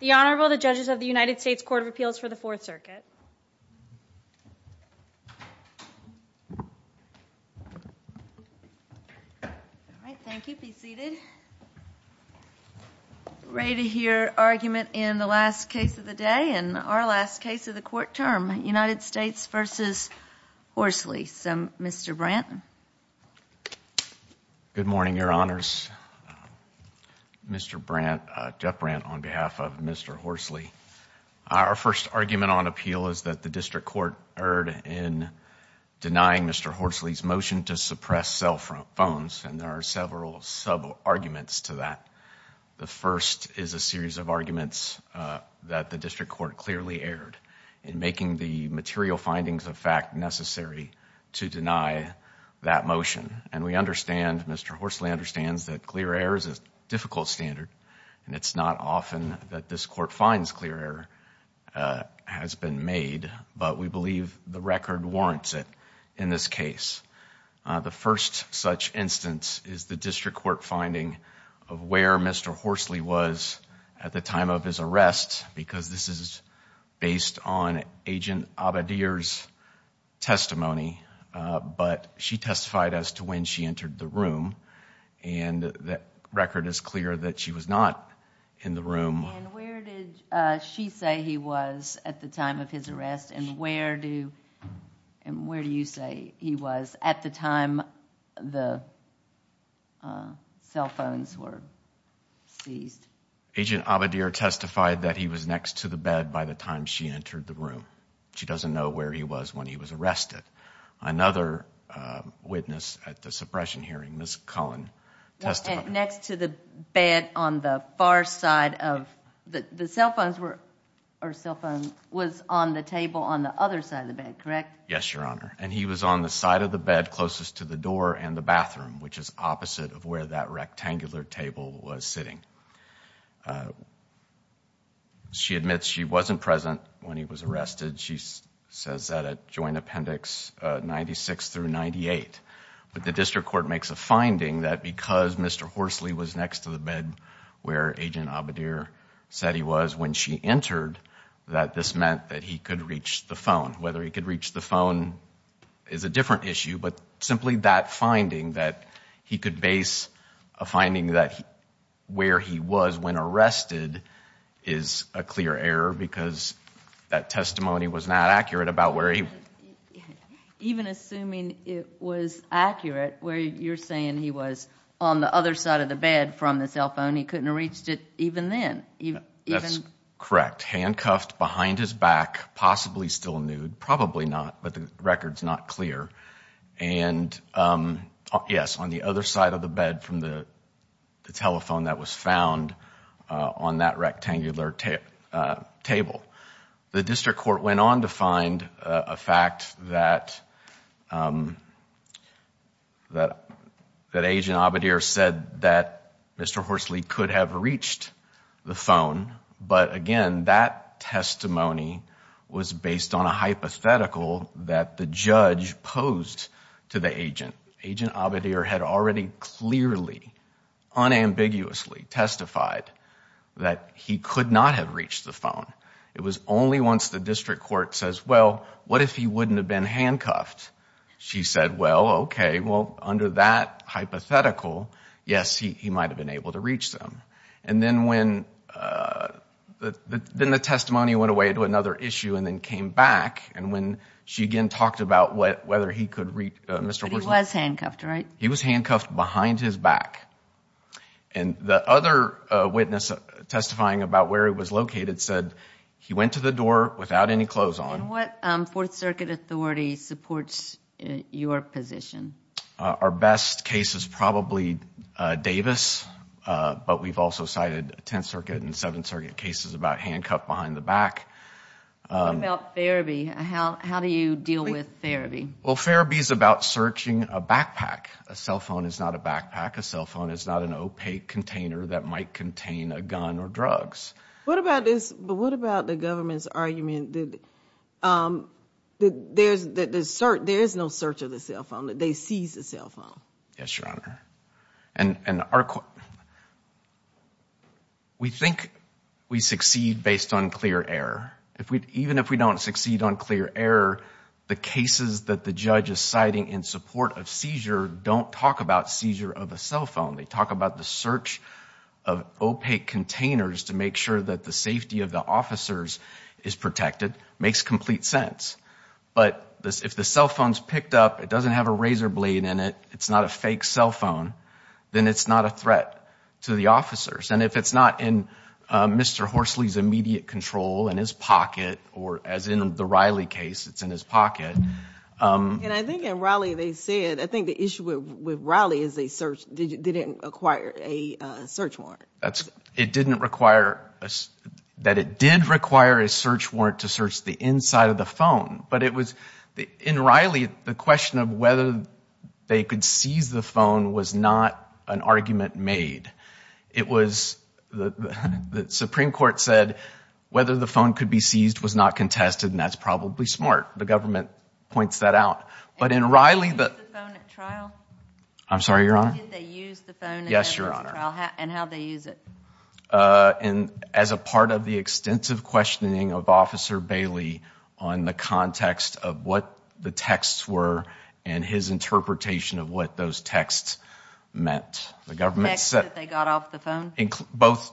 The Honorable, the Judges of the United States Court of Appeals for the Fourth Circuit. Thank you. Be seated. Ready to hear argument in the last case of the day and our last case of the court term, United States v. Horsley. Mr. Branton. Good morning, Your Honors. Mr. Brant, Jeff Brant on behalf of Mr. Horsley. Our first argument on appeal is that the district court erred in denying Mr. Horsley's motion to suppress cell phones and there are several sub-arguments to that. The first is a series of arguments that the district court clearly erred in making the material findings of fact necessary to deny that motion. And we understand, Mr. Horsley understands, that clear error is a difficult standard and it's not often that this court finds clear error has been made but we believe the record warrants it in this case. The first such instance is the district court finding of where Mr. Horsley was at the time of his arrest because this is based on Agent Abadir's testimony but she testified as to when she entered the room and the record is clear that she was not in the room. And where did she say he was at the time of his arrest and where do you say he was at the time the cell phones were seized? Agent Abadir testified that he was next to the bed by the time she entered the room. She doesn't know where he was when he was arrested. Another witness at the suppression hearing, Ms. Cullen, testified. Next to the bed on the far side of the cell phone was on the table on the other side of the bed, correct? Yes, Your Honor. And he was on the side of the bed closest to the door and the bathroom which is opposite of where that rectangular table was sitting. She admits she wasn't present when he was arrested. She says that at Joint Appendix 96 through 98. But the district court makes a finding that because Mr. Horsley was next to the bed where Agent Abadir said he was when she entered that this meant that he could reach the phone. Whether he could reach the phone is a different issue but simply that finding that he could base a finding that where he was when arrested is a clear error because that testimony was not accurate about where he was. Even assuming it was accurate where you're saying he was on the other side of the bed from the cell phone, he couldn't have reached it even then? That's correct. Handcuffed behind his back, possibly still clear. And yes, on the other side of the bed from the telephone that was found on that rectangular table. The district court went on to find a fact that Agent Abadir said that Mr. Horsley could have reached the phone. But again, that testimony was based on a hypothetical that the judge posed to the agent. Agent Abadir had already clearly, unambiguously testified that he could not have reached the phone. It was only once the district court says, well, what if he wouldn't have been handcuffed? She said, well, okay, well, under that hypothetical, yes, he might have been able to reach them. And then when, then the testimony went away to another issue and then came back, and when she again talked about whether he could reach Mr. Horsley. But he was handcuffed, right? He was handcuffed behind his back. And the other witness testifying about where he was located said he went to the door without any clothes on. And what Fourth Circuit authority supports your position? Our best case is probably Davis, but we've also cited Tenth Circuit and Seventh Circuit cases about handcuffed behind the back. What about therapy? How do you deal with therapy? Well, therapy is about searching a backpack. A cell phone is not a backpack. A cell phone is not an opaque container that might contain a gun or drugs. What about this, what about the government's argument that there is no search of the cell phone, that they seized the cell phone? Yes, unclear error. Even if we don't succeed on clear error, the cases that the judge is citing in support of seizure don't talk about seizure of a cell phone. They talk about the search of opaque containers to make sure that the safety of the officers is protected. It makes complete sense. But if the cell phone is picked up, it doesn't have a razor blade in it, it's not a fake cell phone, then it's not a threat to the officers. And if it's not in Mr. Horsley's immediate control, in his pocket, or as in the Riley case, it's in his pocket. And I think in Riley they said, I think the issue with Riley is they didn't acquire a search warrant. It didn't require, that it did require a search warrant to search the inside of the phone. But it was, in Riley, the question of whether they could seize the phone was not an argument made. It was, the Supreme Court said, whether the phone could be seized was not contested, and that's probably smart. The government points that out. But in Riley, the... Did they use the phone at trial? I'm sorry, Your Honor? Did they use the phone at the trial? Yes, Your Honor. And how did they use it? As a part of the extensive questioning of Officer Bailey on the context of what the texts were, and his interpretation of what those texts meant. The government said... The text that they got off the phone? Both.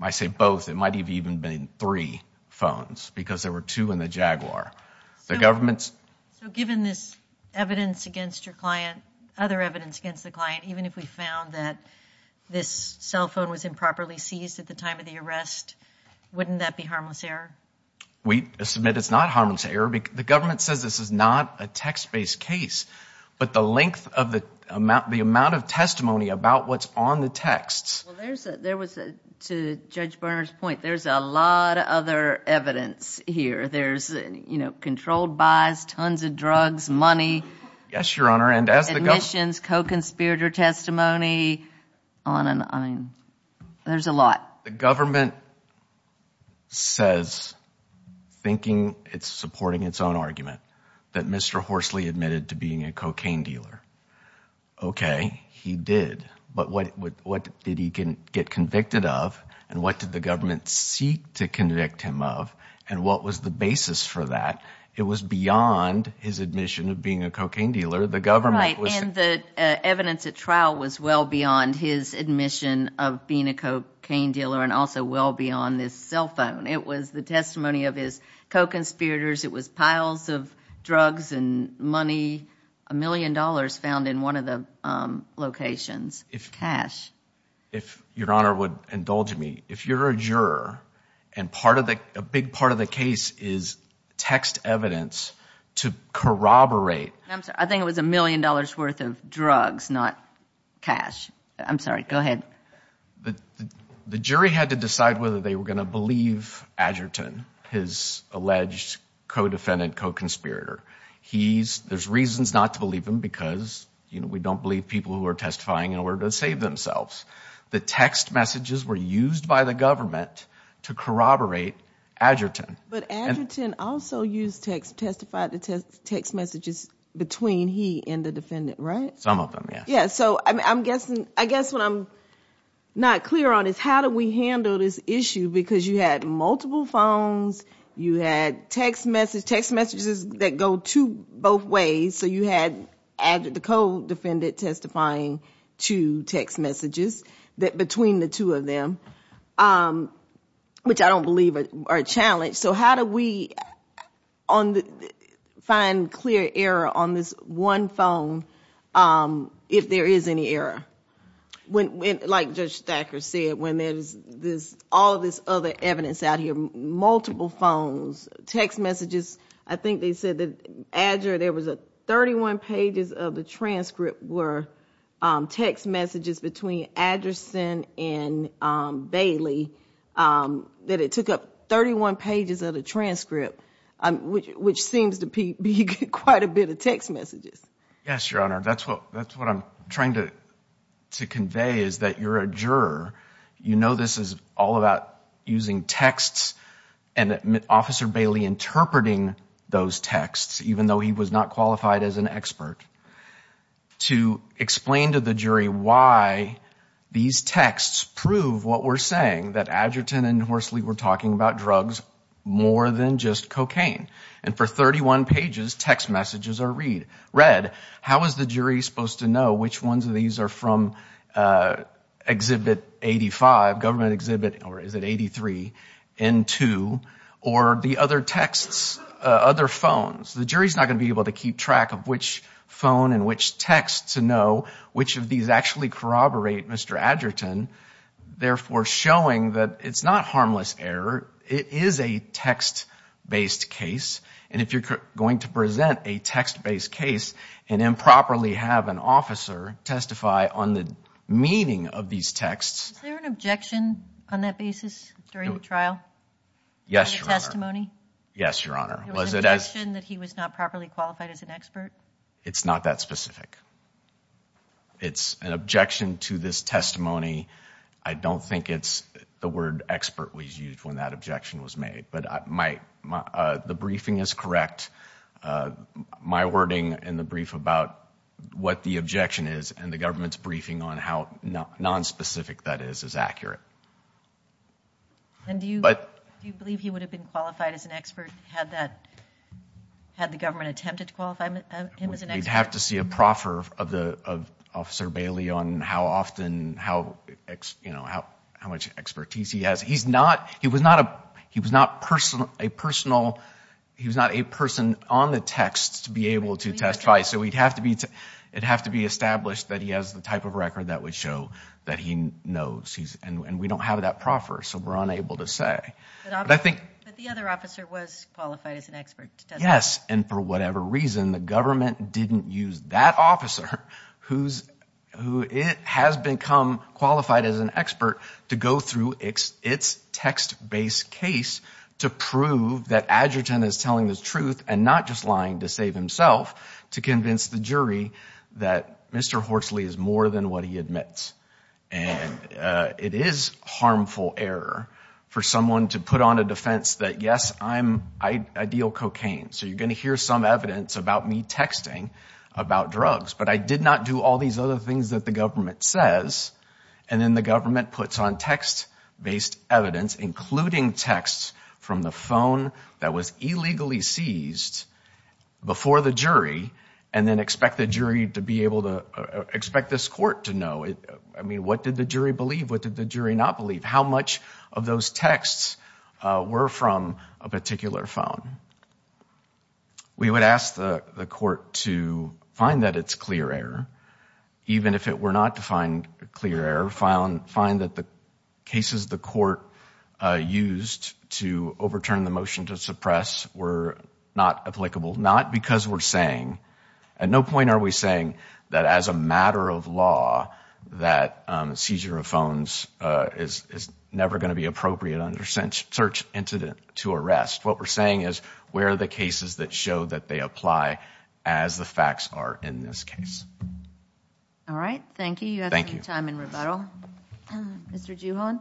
I say both. It might have even been three phones, because there were two in the Jaguar. The government's... So given this evidence against your client, other evidence against the client, even if we found that this cell phone was improperly seized at the time of the arrest, wouldn't that be harmless error? We submit it's not harmless error. The government says this is not a text-based case. But the length of the... The amount of testimony about what's on the texts... Well, there was... To Judge Berner's point, there's a lot of other evidence here. There's controlled buys, tons of drugs, money... Yes, Your Honor, and as the... Admissions, co-conspirator testimony, on and on. There's a lot. The government says, thinking it's supporting its own argument, that Mr. Horsley admitted to being a cocaine dealer. Okay, he did, but what did he get convicted of, and what did the government seek to convict him of, and what was the basis for that? It was beyond his admission of being a cocaine dealer. The government was... Right, and the evidence at trial was well beyond his admission of being a cocaine dealer, and also well beyond this cell phone. It was the testimony of his co-conspirators. It was drugs and money, a million dollars found in one of the locations, cash. If Your Honor would indulge me, if you're a juror, and a big part of the case is text evidence to corroborate... I'm sorry, I think it was a million dollars worth of drugs, not cash. I'm sorry, go ahead. The jury had to decide whether they were going to believe Adgerton, his alleged co-defendant, co-conspirator. There's reasons not to believe him because we don't believe people who are testifying in order to save themselves. The text messages were used by the government to corroborate Adgerton. But Adgerton also used text, testified to text messages between he and the defendant, right? Some of them, yes. Yeah, so I guess what I'm not clear on is how do we handle this issue because you had multiple phones, you had text messages that go to both ways, so you had the co-defendant testifying to text messages between the two of them, which I don't believe are a challenge. So how do we find clear error on this one phone if there is any error? When, like Judge Thacker said, when there's all this other evidence out here, multiple phones, text messages, I think they said that Adger, there was 31 pages of the transcript were text messages between Adgerson and Bailey, that it took up 31 pages of the transcript, which seems to be quite a bit of text messages. Yes, Your Honor, that's what I'm trying to convey is that you're a juror. You know this is all about using texts and Officer Bailey interpreting those texts, even though he was not qualified as an expert, to explain to the jury why these texts prove what we're saying, that Adgerton and Horsley were talking about drugs more than just cocaine. And for 31 pages, text messages are read. How is the jury supposed to know which ones of these are from Exhibit 85, Government Exhibit, or is it 83, N2, or the other texts, other phones? The jury's not going to be able to keep track of which phone and which texts to know which of these actually corroborate Mr. Adgerton, therefore showing that it's not harmless error. It is a text-based case, and if you're going to present a text-based case and improperly have an officer testify on the meaning of these texts... Is there an objection on that basis during the trial? Yes, Your Honor. Any testimony? Yes, Your Honor. It's not that specific. It's an objection to this testimony. I don't think it's the word expert we used when that objection was made, but the briefing is correct. My wording in the brief about what the objection is and the government's briefing on how non-specific that is, is accurate. And do you believe he would have been qualified as an expert had the government attempted to testify? We'd have to see a proffer of Officer Bailey on how much expertise he has. He was not a person on the text to be able to testify, so it'd have to be established that he has the type of record that would show that he knows, and we don't have that proffer, so we're unable to say. But the other officer was qualified as an expert, doesn't he? And for whatever reason, the government didn't use that officer, who has become qualified as an expert, to go through its text-based case to prove that Adgerton is telling the truth and not just lying to save himself, to convince the jury that Mr. Horsley is more than what he admits. And it is harmful error for someone to put on a defense that, yes, I'm ideal cocaine, so you're going to hear some evidence about me texting about drugs, but I did not do all these other things that the government says. And then the government puts on text-based evidence, including texts from the phone that was illegally seized before the jury, and then expect the jury to be able to, expect this court to know. I mean, what did the jury believe? What did the jury not believe? How much of those texts were from a particular phone? We would ask the court to find that it's clear error, even if it were not defined clear error, find that the cases the court used to overturn the motion to suppress were not applicable. Not because we're saying, at no point are we saying that as a matter of law, that seizure of phones is never going to be appropriate under search incident to arrest. What we're saying is, where are the cases that show that they apply as the facts are in this case? All right. Thank you. You have some time in rebuttal. Mr. Juhon?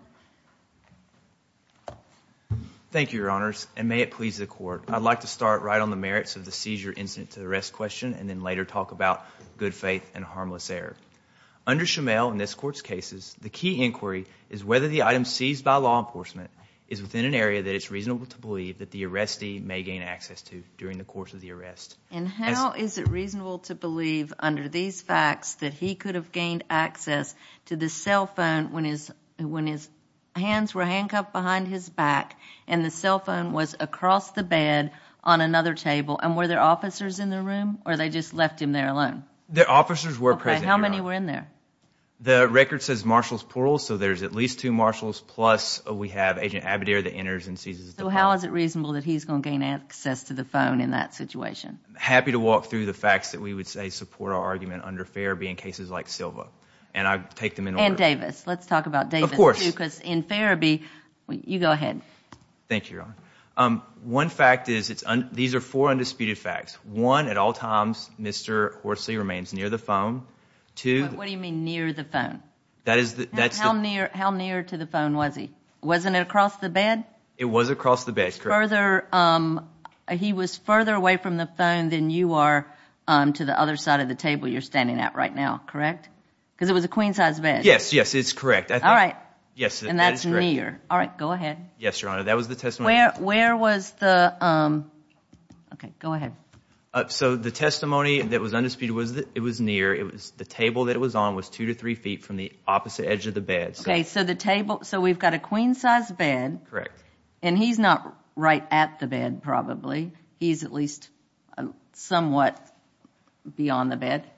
Thank you, Your Honors, and may it please the court. I'd like to start right on the merits of the seizure incident to arrest question, and then later talk about good faith and harmless error. Under Shumail, in this court's cases, the key inquiry is whether the item seized by law enforcement is within an area that it's reasonable to believe that the arrestee may gain access to during the course of the arrest. And how is it reasonable to believe, under these facts, that he could have gained access to the cell phone when his hands were handcuffed behind his back, and the cell phone was across the bed on another table? And were there officers in the room, or they just left him there alone? The officers were present. How many were in there? The record says marshals plural, so there's at least two marshals, plus we have Agent Abadir that enters and seizes the phone. How is it reasonable that he's going to gain access to the phone in that situation? Happy to walk through the facts that we would say support our argument under Farabee in cases like Silva, and I take them in order. And Davis. Let's talk about Davis, too, because in Farabee, you go ahead. Thank you, Your Honor. One fact is, these are four undisputed facts. One, at all times, Mr. Horsley remains near the phone. What do you mean near the phone? How near to the phone was he? Wasn't it across the bed? It was across the bed. He was further away from the phone than you are to the other side of the table you're standing at right now, correct? Because it was a queen size bed. Yes, yes, it's correct. All right. Yes, and that's near. All right, go ahead. Yes, Your Honor. That was the testimony. Where was the, okay, go ahead. So the testimony that was undisputed was that it was near. It was the table that it was on was two to three feet from the opposite edge of the bed. Okay, so the table, so we've got a queen size bed. Correct. And he's not right at the bed, probably. He's at least somewhat beyond the bed.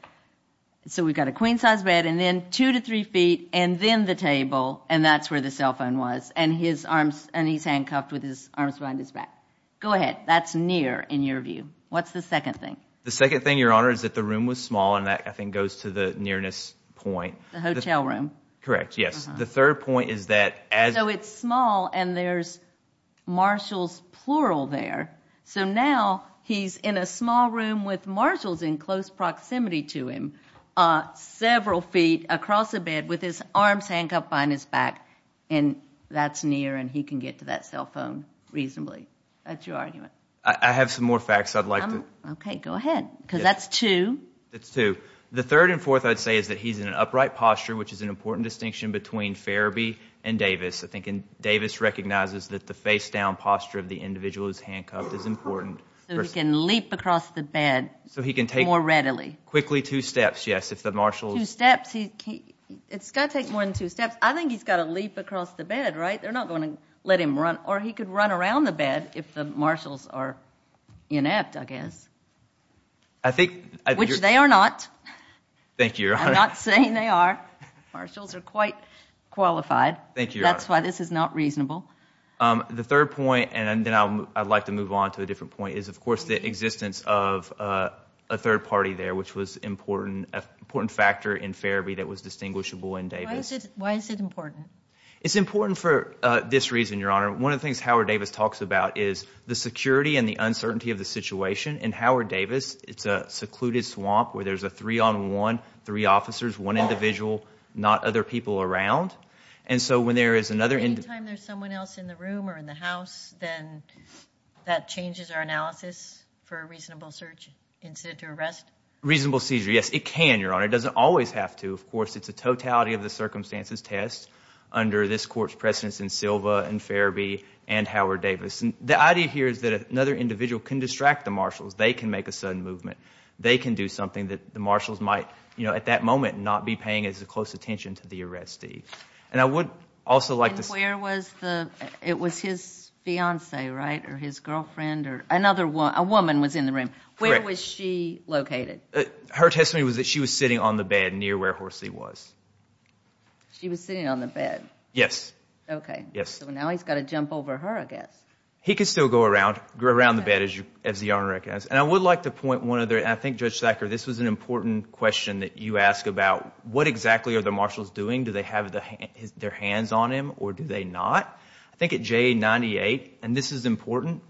So we've got a queen size bed, and then two to three feet, and then the table, and that's where the cell phone was, and he's handcuffed with his arms behind his back. Go ahead. That's near in your view. What's the second thing? The second thing, Your Honor, is that the room was small, and that, I think, goes to the nearness point. The hotel room. Correct, yes. The third point is that as... So it's small, and there's marshals, plural there. So now he's in a small room with marshals in close proximity to him, several feet across the bed with his arms handcuffed behind his back, and that's near, and he can get to that cell phone reasonably. That's your argument. I have some more facts I'd like to... Okay, go ahead, because that's two. That's two. The third and fourth, I'd say, is that he's in an upright posture, which is an important distinction between Farabee and Davis. I think Davis recognizes that the face-down posture of the individual who's handcuffed is important. So he can leap across the bed more readily. Quickly two steps, yes, if the marshals... It's got to take more than two steps. I think he's got to leap across the bed, right? They're not going to let him run, or he could run around the bed if the marshals are inept, I guess. I think... Which they are not. Thank you, Your Honor. I'm not saying they are. Marshals are quite qualified. Thank you, Your Honor. That's why this is not reasonable. The third point, and then I'd like to move on to a different point, is, of course, the existence of a third party there, which was an important factor in Farabee that was distinguishable in Davis. Why is it important? It's important for this reason, Your Honor. One of the things Howard Davis talks about is the security and the uncertainty of the situation. In Howard Davis, it's a secluded swamp where there's a three-on-one, three officers, one individual, not other people around, and so when there is another... Anytime there's someone else in the room or in the house, then that changes our analysis for a reasonable search incident to arrest? Reasonable seizure, yes, it can, Your Honor. It doesn't always have to. Of course, it's a totality of the circumstances test under this court's precedence in Silva and Farabee and Howard Davis. The idea here is that another individual can distract the marshals. They can make a sudden movement. They can do something that the marshals might, at that moment, not be paying close attention to the arrestee. I would also like to... Where was the... It was his fiance, right, or his girlfriend, or another woman was in the room. Correct. Where was she located? Her testimony was that she was sitting on the bed near where Horsey was. She was sitting on the bed? Yes. Okay. Yes. Now he's got to jump over her, I guess. He could still go around the bed, as the Honor recognizes. I would like to point one other... What exactly are the marshals doing? Do they have their hands on him, or do they not? I think at J98, and this is important,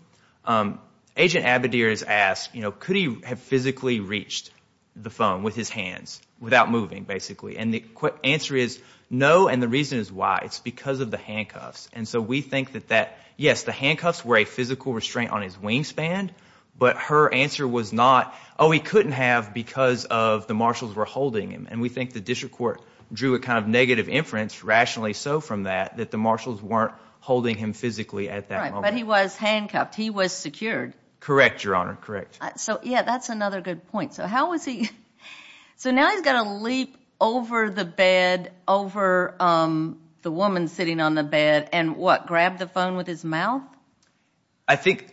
Agent Abadir is asked, could he have physically reached the phone with his hands, without moving, basically? The answer is no, and the reason is why. It's because of the handcuffs. We think that, yes, the handcuffs were a physical restraint on his wingspan, but her answer was not, oh, he couldn't have because of the marshals were holding him. We think the district court drew a kind of negative inference, rationally so from that, that the marshals weren't holding him physically at that moment. Right, but he was handcuffed. He was secured. Correct, Your Honor. Correct. So, yeah, that's another good point. So how was he... So now he's got to leap over the bed, over the woman sitting on the bed, and what, grab the phone with his mouth? I think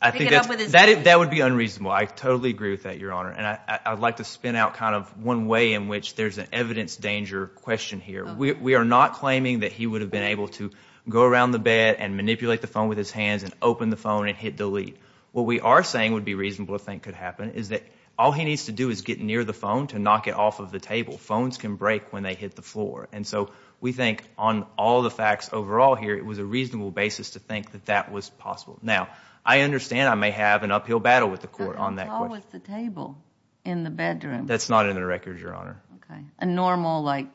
that would be unreasonable. I totally agree with that, Your Honor, and I'd like to spin out kind of one way in which there's an evidence danger question here. We are not claiming that he would have been able to go around the bed and manipulate the phone with his hands and open the phone and hit delete. What we are saying would be reasonable to think could happen is that all he needs to do is get near the phone to knock it off of the table. Phones can break when they hit the floor, and so we think on all the facts overall here, it was a reasonable basis to think that that was possible. Now, I understand I may have an uphill battle with the court on that. How was the table in the bedroom? That's not in the record, Your Honor. Okay, a normal like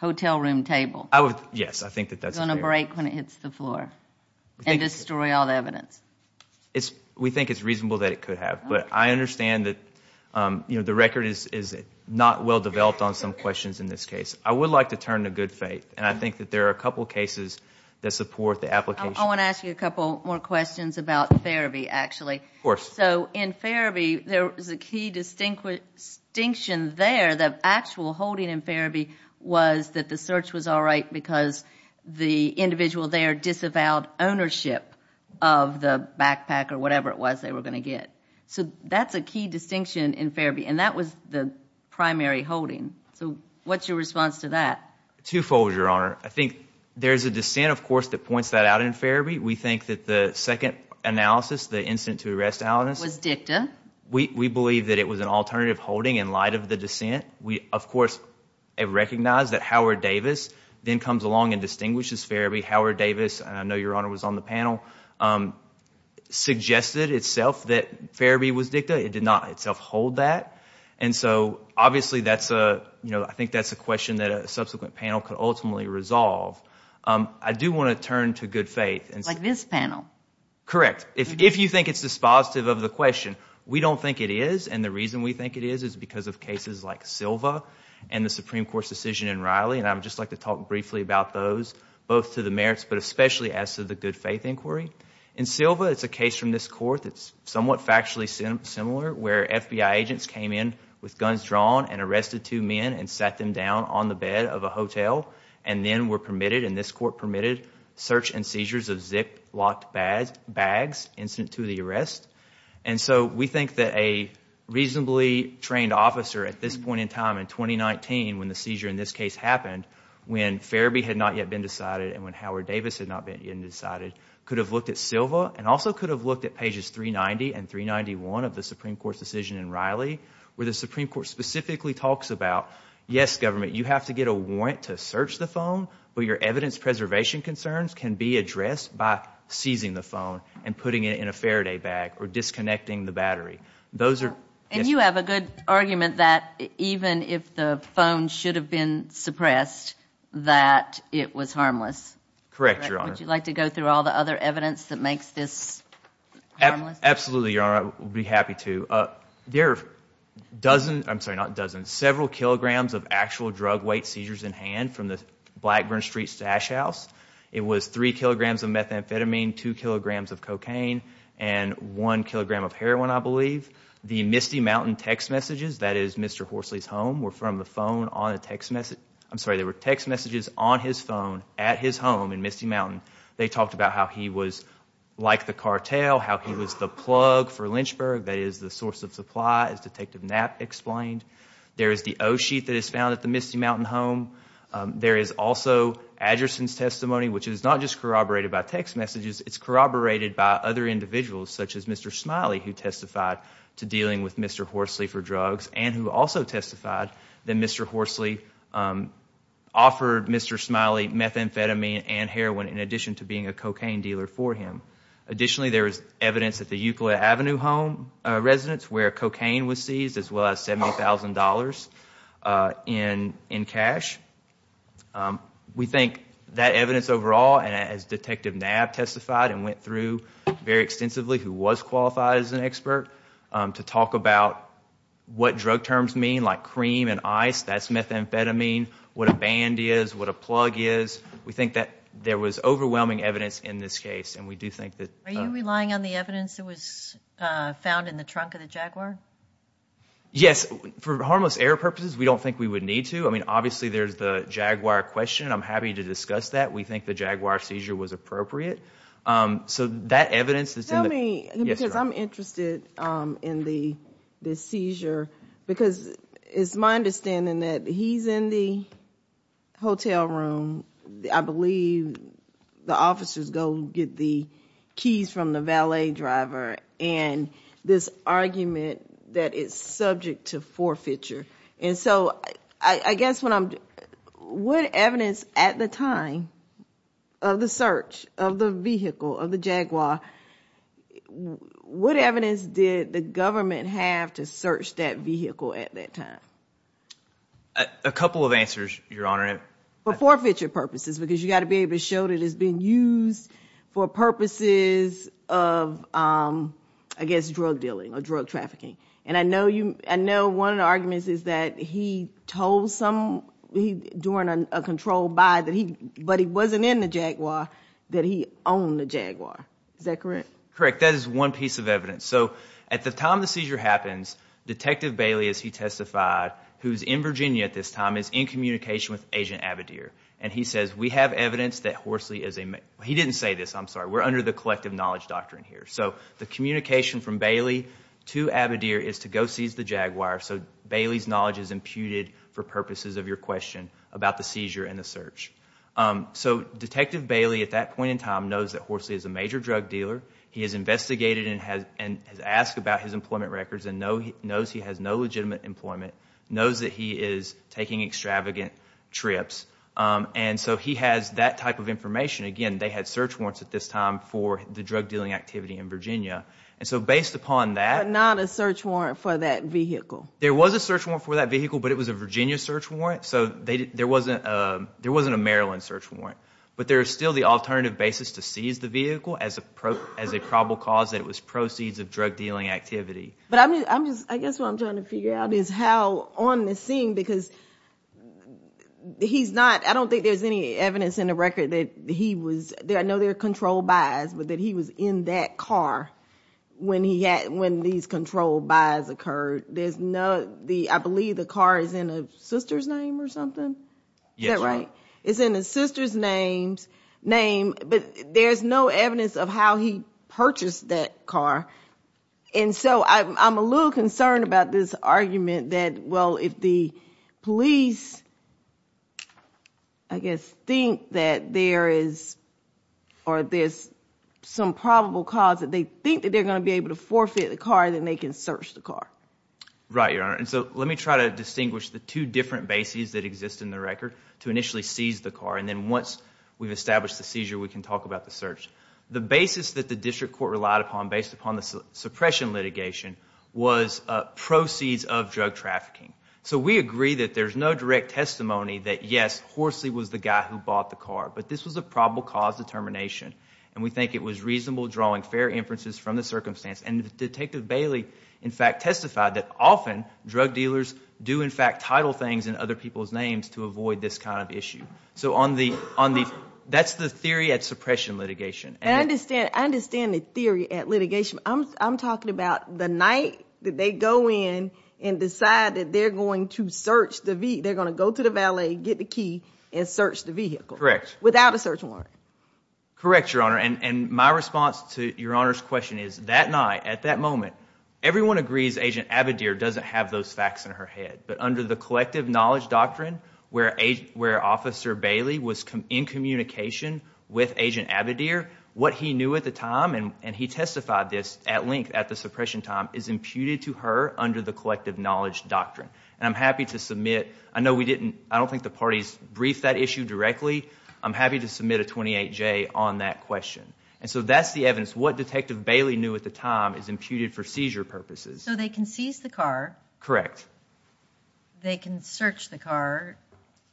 hotel room table. I would, yes, I think that that's going to break when it hits the floor and destroy all the evidence. We think it's reasonable that it could have, but I understand that, you know, the record is not well developed on some questions in this case. I would like to turn to good faith, and I think that there are a couple cases that support the application. I want to ask you a couple more questions about Farabee, actually. Of course. So in Farabee, there is a key distinction there. The actual holding in Farabee was that the search was all right because the individual there disavowed ownership of the backpack or whatever it was they were going to get. So that's a key distinction in Farabee, and that was the primary holding. So what's your response to that? Twofold, Your Honor. I think there's a dissent, of course, that points that out in Farabee. We think that the second analysis, the incident to arrest analysis, was dicta. We believe that it was an alternative holding in light of the dissent. We, of course, have recognized that Howard Davis then comes along and distinguishes Farabee. Howard Davis, and I know Your Honor was on the panel, suggested itself that Farabee was dicta. It did not itself hold that, and so obviously that's a, you know, I think that's a question that a subsequent panel could ultimately resolve. I do want to turn to good faith. Like this panel? Correct. If you think it's dispositive of the question, we don't think it is, and the reason we think it is is because of cases like Silva and the Supreme Court's decision in Riley, and I'd just like to talk briefly about those, both to the merits, but especially as to the good faith inquiry. In Silva, it's a case from this court that's somewhat factually similar, where FBI agents came in with guns drawn and this court permitted search and seizures of zip-locked bags incident to the arrest, and so we think that a reasonably trained officer at this point in time, in 2019, when the seizure in this case happened, when Farabee had not yet been decided and when Howard Davis had not been decided, could have looked at Silva and also could have looked at pages 390 and 391 of the Supreme Court's decision in Riley, where the Supreme Court specifically talks about, yes, government, you have to get a warrant to search the phone, but your evidence preservation concerns can be addressed by seizing the phone and putting it in a Faraday bag or disconnecting the battery. And you have a good argument that even if the phone should have been suppressed, that it was harmless. Correct, Your Honor. Would you like to go through all the other evidence that makes this harmless? Absolutely, Your Honor, I would be happy to. There are several kilograms of actual drug weight seizures in hand from the Blackburn Street Stash House. It was three kilograms of methamphetamine, two kilograms of cocaine, and one kilogram of heroin, I believe. The Misty Mountain text messages, that is Mr. Horsley's home, were from the phone on a text message. I'm sorry, there were text messages on his phone at his home in Misty Mountain. They talked about how he was like the cartel, how he was the plug for Lynchburg, that is the source of supply, as Detective Knapp explained. There is the O-sheet that is found at the Misty Mountain home. There is also Adgerson's testimony, which is not just corroborated by text messages, it's corroborated by other individuals, such as Mr. Smiley, who testified to dealing with Mr. Horsley for drugs, and who also testified that Mr. Horsley offered Mr. Smiley methamphetamine and heroin in addition to being a cocaine dealer for him. Additionally, there is evidence at the well as $70,000 in cash. We think that evidence overall, as Detective Knapp testified and went through very extensively, who was qualified as an expert, to talk about what drug terms mean, like cream and ice, that's methamphetamine, what a band is, what a plug is. We think that there was overwhelming evidence in this case. Are you relying on the evidence that was provided? Yes. For harmless error purposes, we don't think we would need to. Obviously, there is the Jaguar question. I'm happy to discuss that. We think the Jaguar seizure was appropriate. That evidence is in the... Tell me, because I'm interested in the seizure, because it's my understanding that he's in the hotel room. I believe the officers go get the argument that it's subject to forfeiture. What evidence at the time of the search, of the vehicle, of the Jaguar, what evidence did the government have to search that vehicle at that time? A couple of answers, Your Honor. For forfeiture purposes, because you got to be and I know one of the arguments is that he told someone during a controlled buy, but he wasn't in the Jaguar, that he owned the Jaguar. Is that correct? Correct. That is one piece of evidence. At the time the seizure happens, Detective Bailey, as he testified, who's in Virginia at this time, is in communication with Agent Avedere. He says, we have evidence that Horsley is a... He didn't say this, I'm sorry. We're under the collective knowledge doctrine here. The communication from Bailey to Avedere is to go seize the Jaguar, so Bailey's knowledge is imputed for purposes of your question about the seizure and the search. Detective Bailey at that point in time knows that Horsley is a major drug dealer. He has investigated and has asked about his employment records and knows he has no legitimate employment, knows that he is taking extravagant trips. He has that type of information. Again, they had search warrants at this time for the drug dealing activity in Virginia. Based upon that... But not a search warrant for that vehicle. There was a search warrant for that vehicle, but it was a Virginia search warrant, so there wasn't a Maryland search warrant, but there is still the alternative basis to seize the vehicle as a probable cause that it was proceeds of drug dealing activity. I guess what I'm trying to figure out is how on the scene, because he's not... I don't think there's any evidence in the record that he was... I know there are control buys, but that he was in that car when these control buys occurred. There's no... I believe the car is in a sister's name or something? Is that right? It's in a sister's name, but there's no evidence of how he purchased that car, and so I'm a little concerned about this because I guess think that there is or there's some probable cause that they think that they're going to be able to forfeit the car, then they can search the car. Right, Your Honor, and so let me try to distinguish the two different bases that exist in the record to initially seize the car, and then once we've established the seizure, we can talk about the search. The basis that the district court relied upon based upon the suppression litigation was proceeds of drug trafficking, so we agree that there's no direct testimony that, yes, Horsley was the guy who bought the car, but this was a probable cause determination, and we think it was reasonable drawing fair inferences from the circumstance, and Detective Bailey, in fact, testified that often drug dealers do, in fact, title things in other people's names to avoid this kind of issue, so that's the theory at suppression litigation. I understand the theory at litigation. I'm and decide that they're going to go to the valet, get the key, and search the vehicle. Correct. Without a search warrant. Correct, Your Honor, and my response to Your Honor's question is that night, at that moment, everyone agrees Agent Avedere doesn't have those facts in her head, but under the collective knowledge doctrine where Officer Bailey was in communication with Agent Avedere, what he knew at the time, and he testified this at length at the suppression time, is imputed to her under the collective knowledge doctrine, and I'm happy to submit, I know we didn't, I don't think the parties briefed that issue directly, I'm happy to submit a 28J on that question, and so that's the evidence what Detective Bailey knew at the time is imputed for seizure purposes. So they can seize the car. Correct. They can search the car.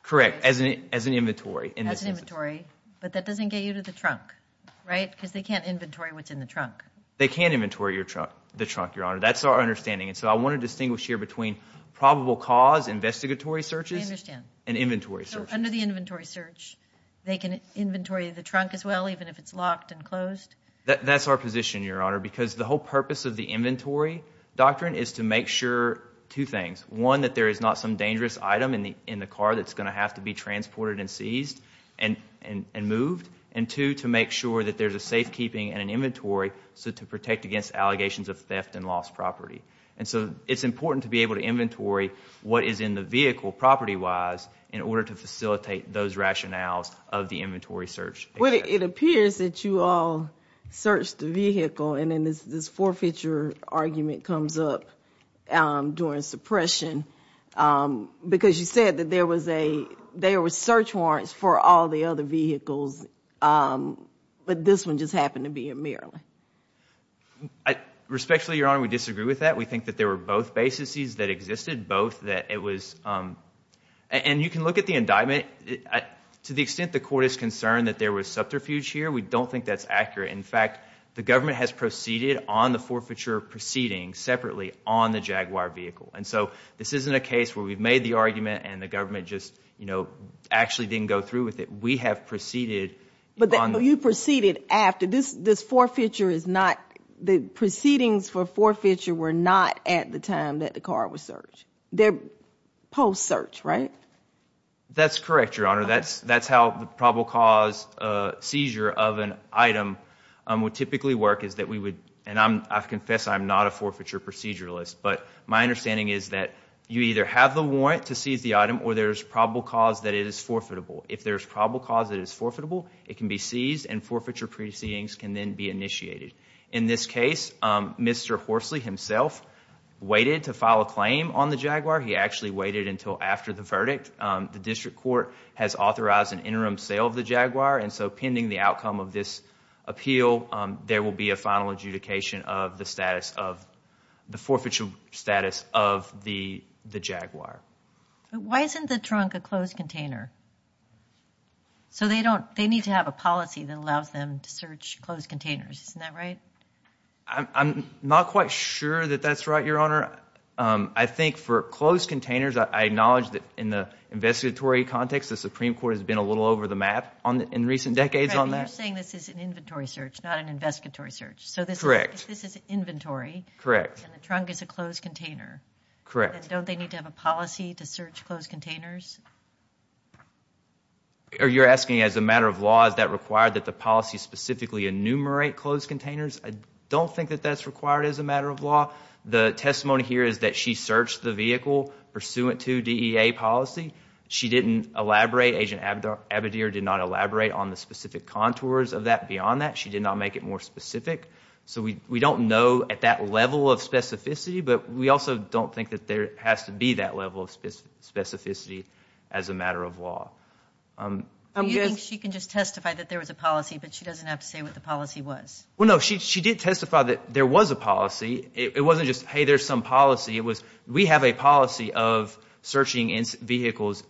Correct, as an inventory. As an inventory, but that doesn't get you to the trunk, right, because they can't inventory what's That's our understanding, and so I want to distinguish here between probable cause, investigatory searches, and inventory searches. So under the inventory search, they can inventory the trunk as well, even if it's locked and closed? That's our position, Your Honor, because the whole purpose of the inventory doctrine is to make sure two things. One, that there is not some dangerous item in the car that's going to have to be transported and seized and moved, and two, to make sure that there's a safekeeping and an inventory, so to protect against allegations of theft and lost property, and so it's important to be able to inventory what is in the vehicle property-wise in order to facilitate those rationales of the inventory search. Well, it appears that you all searched the vehicle, and then this forfeiture argument comes up during suppression, because you said that there was search warrants for all the other vehicles, but this one just happened to be in Maryland. Respectfully, Your Honor, we disagree with that. We think that there were both bases that existed, both that it was, and you can look at the indictment. To the extent the court is concerned that there was subterfuge here, we don't think that's accurate. In fact, the government has proceeded on the forfeiture proceeding separately on the Jaguar vehicle, and so this isn't a case where we've made the argument and the government just, you know, actually didn't go through with it. We have proceeded. But you proceeded after, this forfeiture is not, the proceedings for forfeiture were not at the time that the car was searched. They're post-search, right? That's correct, Your Honor. That's how the probable cause seizure of an item would typically work, is that we would, and I confess I'm not a forfeiture proceduralist, but my understanding is that you either have the warrant to seize the item, or there's probable cause that it is forfeitable. If there's probable cause that it is forfeitable, it can be seized, and forfeiture proceedings can then be initiated. In this case, Mr. Horsley himself waited to file a claim on the Jaguar. He actually waited until after the verdict. The district court has authorized an interim sale of the Jaguar, and so pending the outcome of this appeal, there will be a final adjudication of the status of, the forfeiture status of the Jaguar. Why isn't the trunk a closed container? So they don't, they need to have a policy that allows them to search closed containers, isn't that right? I'm not quite sure that that's right, Your Honor. I think for closed containers, I acknowledge that in the investigatory context, the Supreme Court has been a little over the map on, in recent decades on that. You're saying this is an inventory search, not an investigatory search, so this is correct, this is inventory, correct, and the trunk is a closed container. Correct. Don't they need to have a policy to search closed containers? You're asking as a matter of law, is that required that the policy specifically enumerate closed containers? I don't think that that's required as a matter of law. The testimony here is that she searched the vehicle pursuant to DEA policy. She didn't elaborate, Agent Abadir did not elaborate on the specific contours of that beyond that. She did not make it more specific, so we don't know at that level of specificity, but we also don't think that there has to be that level of specificity as a matter of law. Do you think she can just testify that there was a policy, but she doesn't have to say what the policy was? Well, no, she did testify that there was a policy. It wasn't just, hey, there's some policy. It was, we have a policy of searching vehicles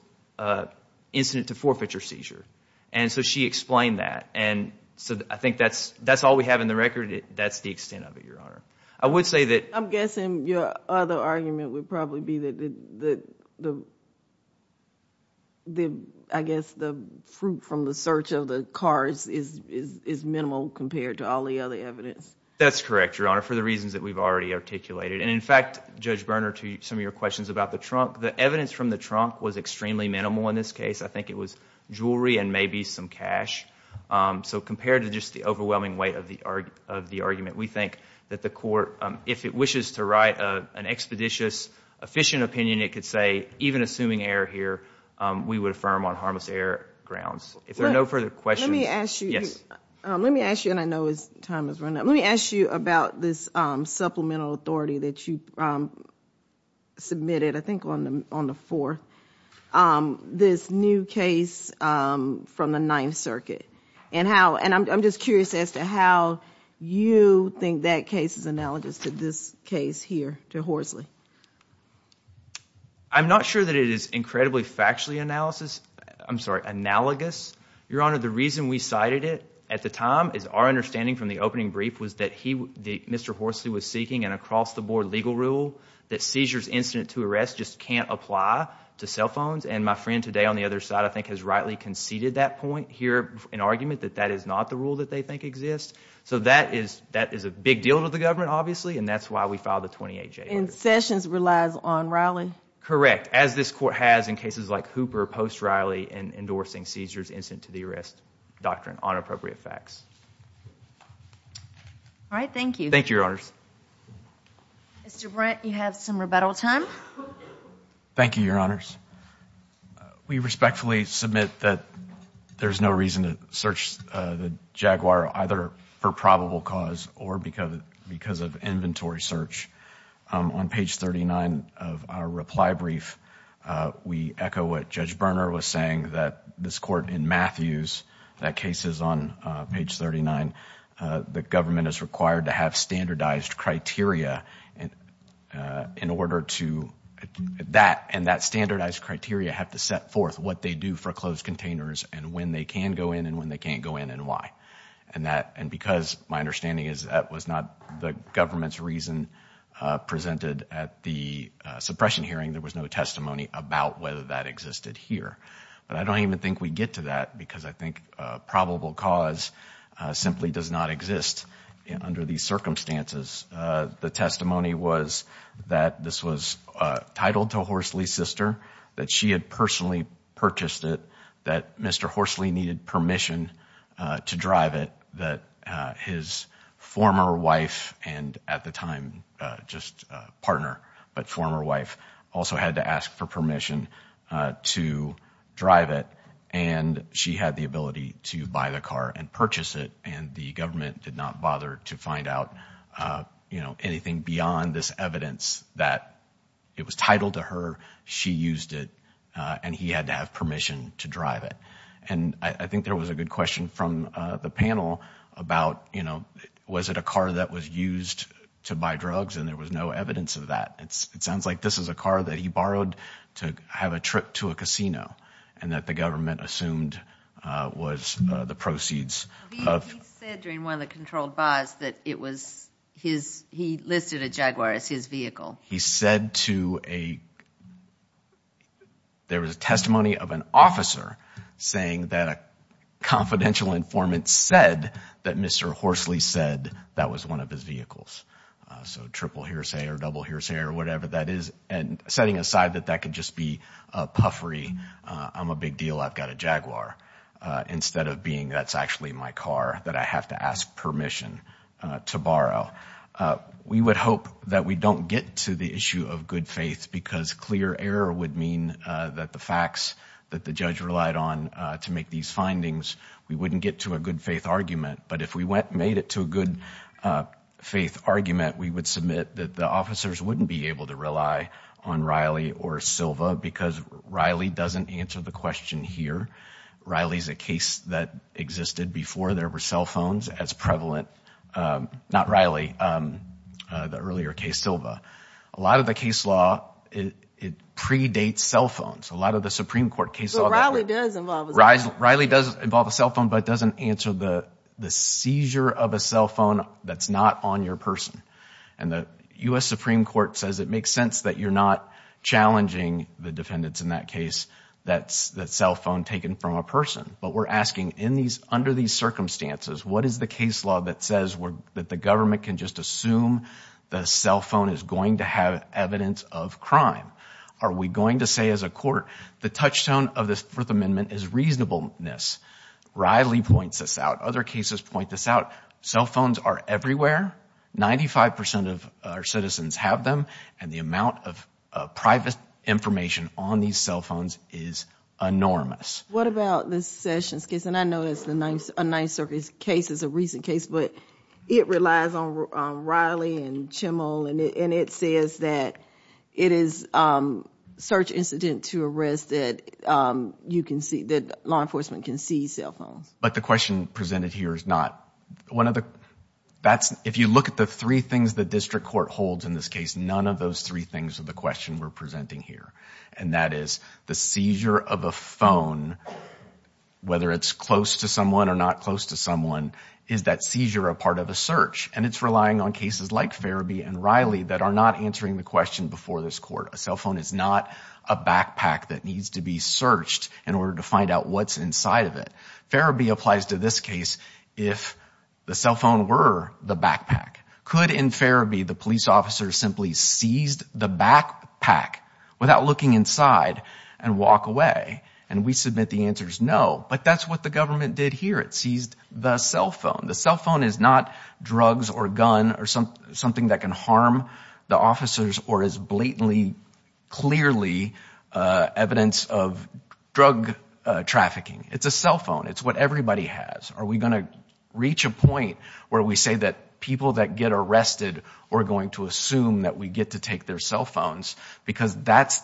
incident to forfeiture seizure, and so she explained that, and so I think that's all we have in the record. That's the extent of it, Your Honor. I'm guessing your other argument would probably be that I guess the fruit from the search of the cars is minimal compared to all the other evidence. That's correct, Your Honor, for the reasons that we've already articulated, and in fact, Judge Berner, to some of your questions about the trunk, the evidence from the trunk was extremely minimal in this case. I think it was jewelry and maybe some cash, so compared to just the argument, we think that the court, if it wishes to write an expeditious, efficient opinion, it could say even assuming error here, we would affirm on harmless error grounds. If there are no further questions, yes. Let me ask you, and I know time is running out, let me ask you about this supplemental authority that you submitted, I think on the fourth, this new case from the that case is analogous to this case here to Horsley. I'm not sure that it is incredibly factually analysis, I'm sorry, analogous. Your Honor, the reason we cited it at the time is our understanding from the opening brief was that Mr. Horsley was seeking an across-the-board legal rule that seizures incident to arrest just can't apply to cell phones, and my friend today on the other side, I think, has rightly conceded that point here, an argument that that is not the rule that they think exists, so that is a big deal to the government, obviously, and that's why we filed the 28J. And Sessions relies on Riley? Correct, as this court has in cases like Hooper, post-Riley, and endorsing seizures incident to the arrest doctrine on appropriate facts. All right, thank you. Thank you, Your Honors. Mr. Brent, you have some rebuttal time. Thank you, Your Honors. We respectfully submit that there's no reason to search the Jaguar either for probable cause or because of inventory search. On page 39 of our reply brief, we echo what Judge Berner was saying, that this court in Matthews, that case is on page 39, the government is required to have standardized criteria in order to, that and that standardized criteria have to set forth what they do for closed containers and when they can go in and when they can't go in and why. And because my understanding is that was not the government's reason presented at the suppression hearing, there was no testimony about whether that existed here. But I don't even think we get to that because I think probable cause simply does not exist under these circumstances. The testimony was that this was titled to Horsley's sister, that she had personally purchased it, that Mr. Horsley needed permission to drive it, that his former wife, and at the time just a partner but former wife, also had to ask for permission to drive it. And she had the ability to buy the car and purchase it and the government did not bother to find out, you know, anything beyond this evidence that it was titled to her, she used it, and he had to have permission to drive it. And I think there was a good question from the panel about, you know, was it a car that was used to buy drugs and there was no evidence of that. It sounds like this is a car that he borrowed to have a trip to a casino and that the government assumed was the proceeds. He said during one of the controlled buys that it was his, he listed a Jaguar as his vehicle. He said to a, there was a testimony of an officer saying that a confidential informant said that Mr. Horsley said that was one of his vehicles. So triple hearsay or double hearsay or whatever that is, and setting aside that that could just be a puffery, I'm a big deal, I've got a Jaguar, instead of being that's actually my car that I have to ask permission to borrow. We would hope that we don't get to the issue of good faith because clear error would mean that the facts that the judge relied on to make these findings, we wouldn't get to a good faith argument. But if we went and made it to a good faith argument, we would submit that the officers wouldn't be able to rely on Riley or Silva because Riley doesn't answer the question here. Riley is a case that existed before there were cell phones as prevalent, not Riley, the earlier case, Silva. A lot of the case law, it predates cell phones. A lot of the Supreme Court cases- Riley does involve a cell phone. Riley does involve a cell phone, but it doesn't answer the seizure of a cell phone that's not on your person. And the U.S. Supreme Court says it makes sense that you're not challenging the in that case that cell phone taken from a person. But we're asking under these circumstances, what is the case law that says that the government can just assume the cell phone is going to have evidence of crime? Are we going to say as a court, the touchstone of this Fourth Amendment is reasonableness? Riley points this out. Other cases point this out. Cell phones are everywhere. Ninety-five percent of our citizens have them. And the amount of private information on these cell phones is enormous. What about the Sessions case? And I know that's a Ninth Circuit case. It's a recent case, but it relies on Riley and Chimmel. And it says that it is search incident to arrest that law enforcement can see cell phones. But the question presented here is not one of the that's if you look at the three things that district court holds in this case, none of those three things are the question we're presenting here. And that is the seizure of a phone, whether it's close to someone or not close to someone, is that seizure a part of a search? And it's relying on cases like Farabee and Riley that are not answering the question before this court. A cell phone is not a backpack that applies to this case. If the cell phone were the backpack, could in Farabee, the police officer simply seized the backpack without looking inside and walk away? And we submit the answer is no. But that's what the government did here. It seized the cell phone. The cell phone is not drugs or gun or something that can harm the officers or is blatantly, clearly evidence of Are we going to reach a point where we say that people that get arrested are going to assume that we get to take their cell phones? Because that's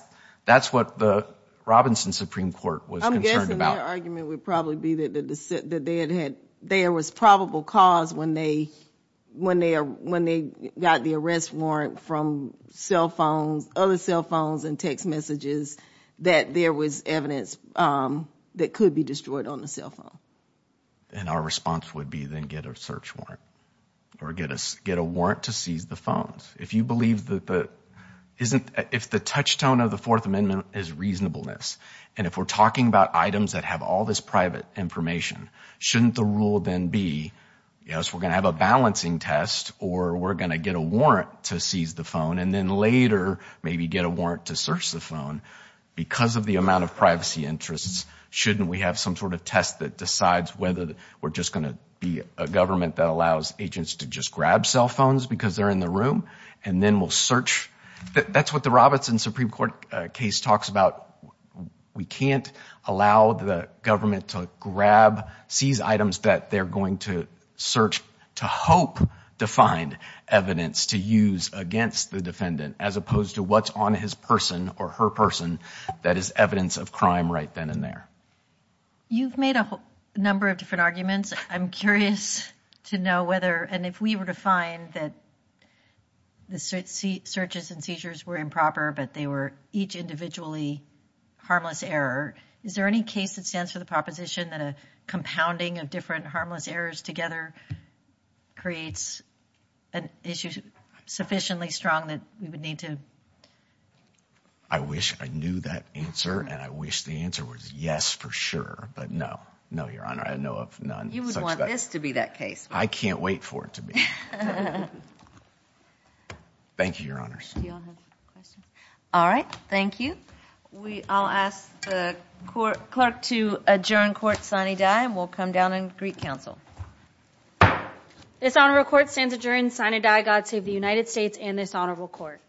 what the Robinson Supreme Court was concerned about. I'm guessing their argument would probably be that there was probable cause when they got the arrest warrant from cell phones, other cell phones and text messages, that there was evidence that could be destroyed on the cell phone. And our response would be then get a search warrant or get us get a warrant to seize the phones. If you believe that the isn't if the touchstone of the Fourth Amendment is reasonableness and if we're talking about items that have all this private information, shouldn't the rule then be, yes, we're going to have a balancing test or we're going to get a warrant to seize the phone and then later maybe get a warrant to search the phone. Because of the amount of privacy interests, shouldn't we have some sort of test that decides whether we're just going to be a government that allows agents to just grab cell phones because they're in the room and then we'll search. That's what the Robinson Supreme Court case talks about. We can't allow the government to grab, seize items that they're going to search to hope to find evidence to use against the defendant as opposed to what's on his person or her person that is evidence of crime right then and there. You've made a number of different arguments. I'm curious to know whether, and if we were to find that the searches and seizures were improper but they were each individually harmless error, is there any case that stands for the proposition that a compounding of different harmless errors together creates an issue sufficiently strong that we would need to? I wish I knew that answer and I wish the answer was yes for sure, but no. No, Your Honor, I know of none. You would want this to be that case. I can't wait for it to be. Thank you, Your Honors. All right, thank you. I'll ask the clerk to adjourn court sine die and we'll come down and greet counsel. This honorable court stands adjourned sine die. God save the United States and this honorable court.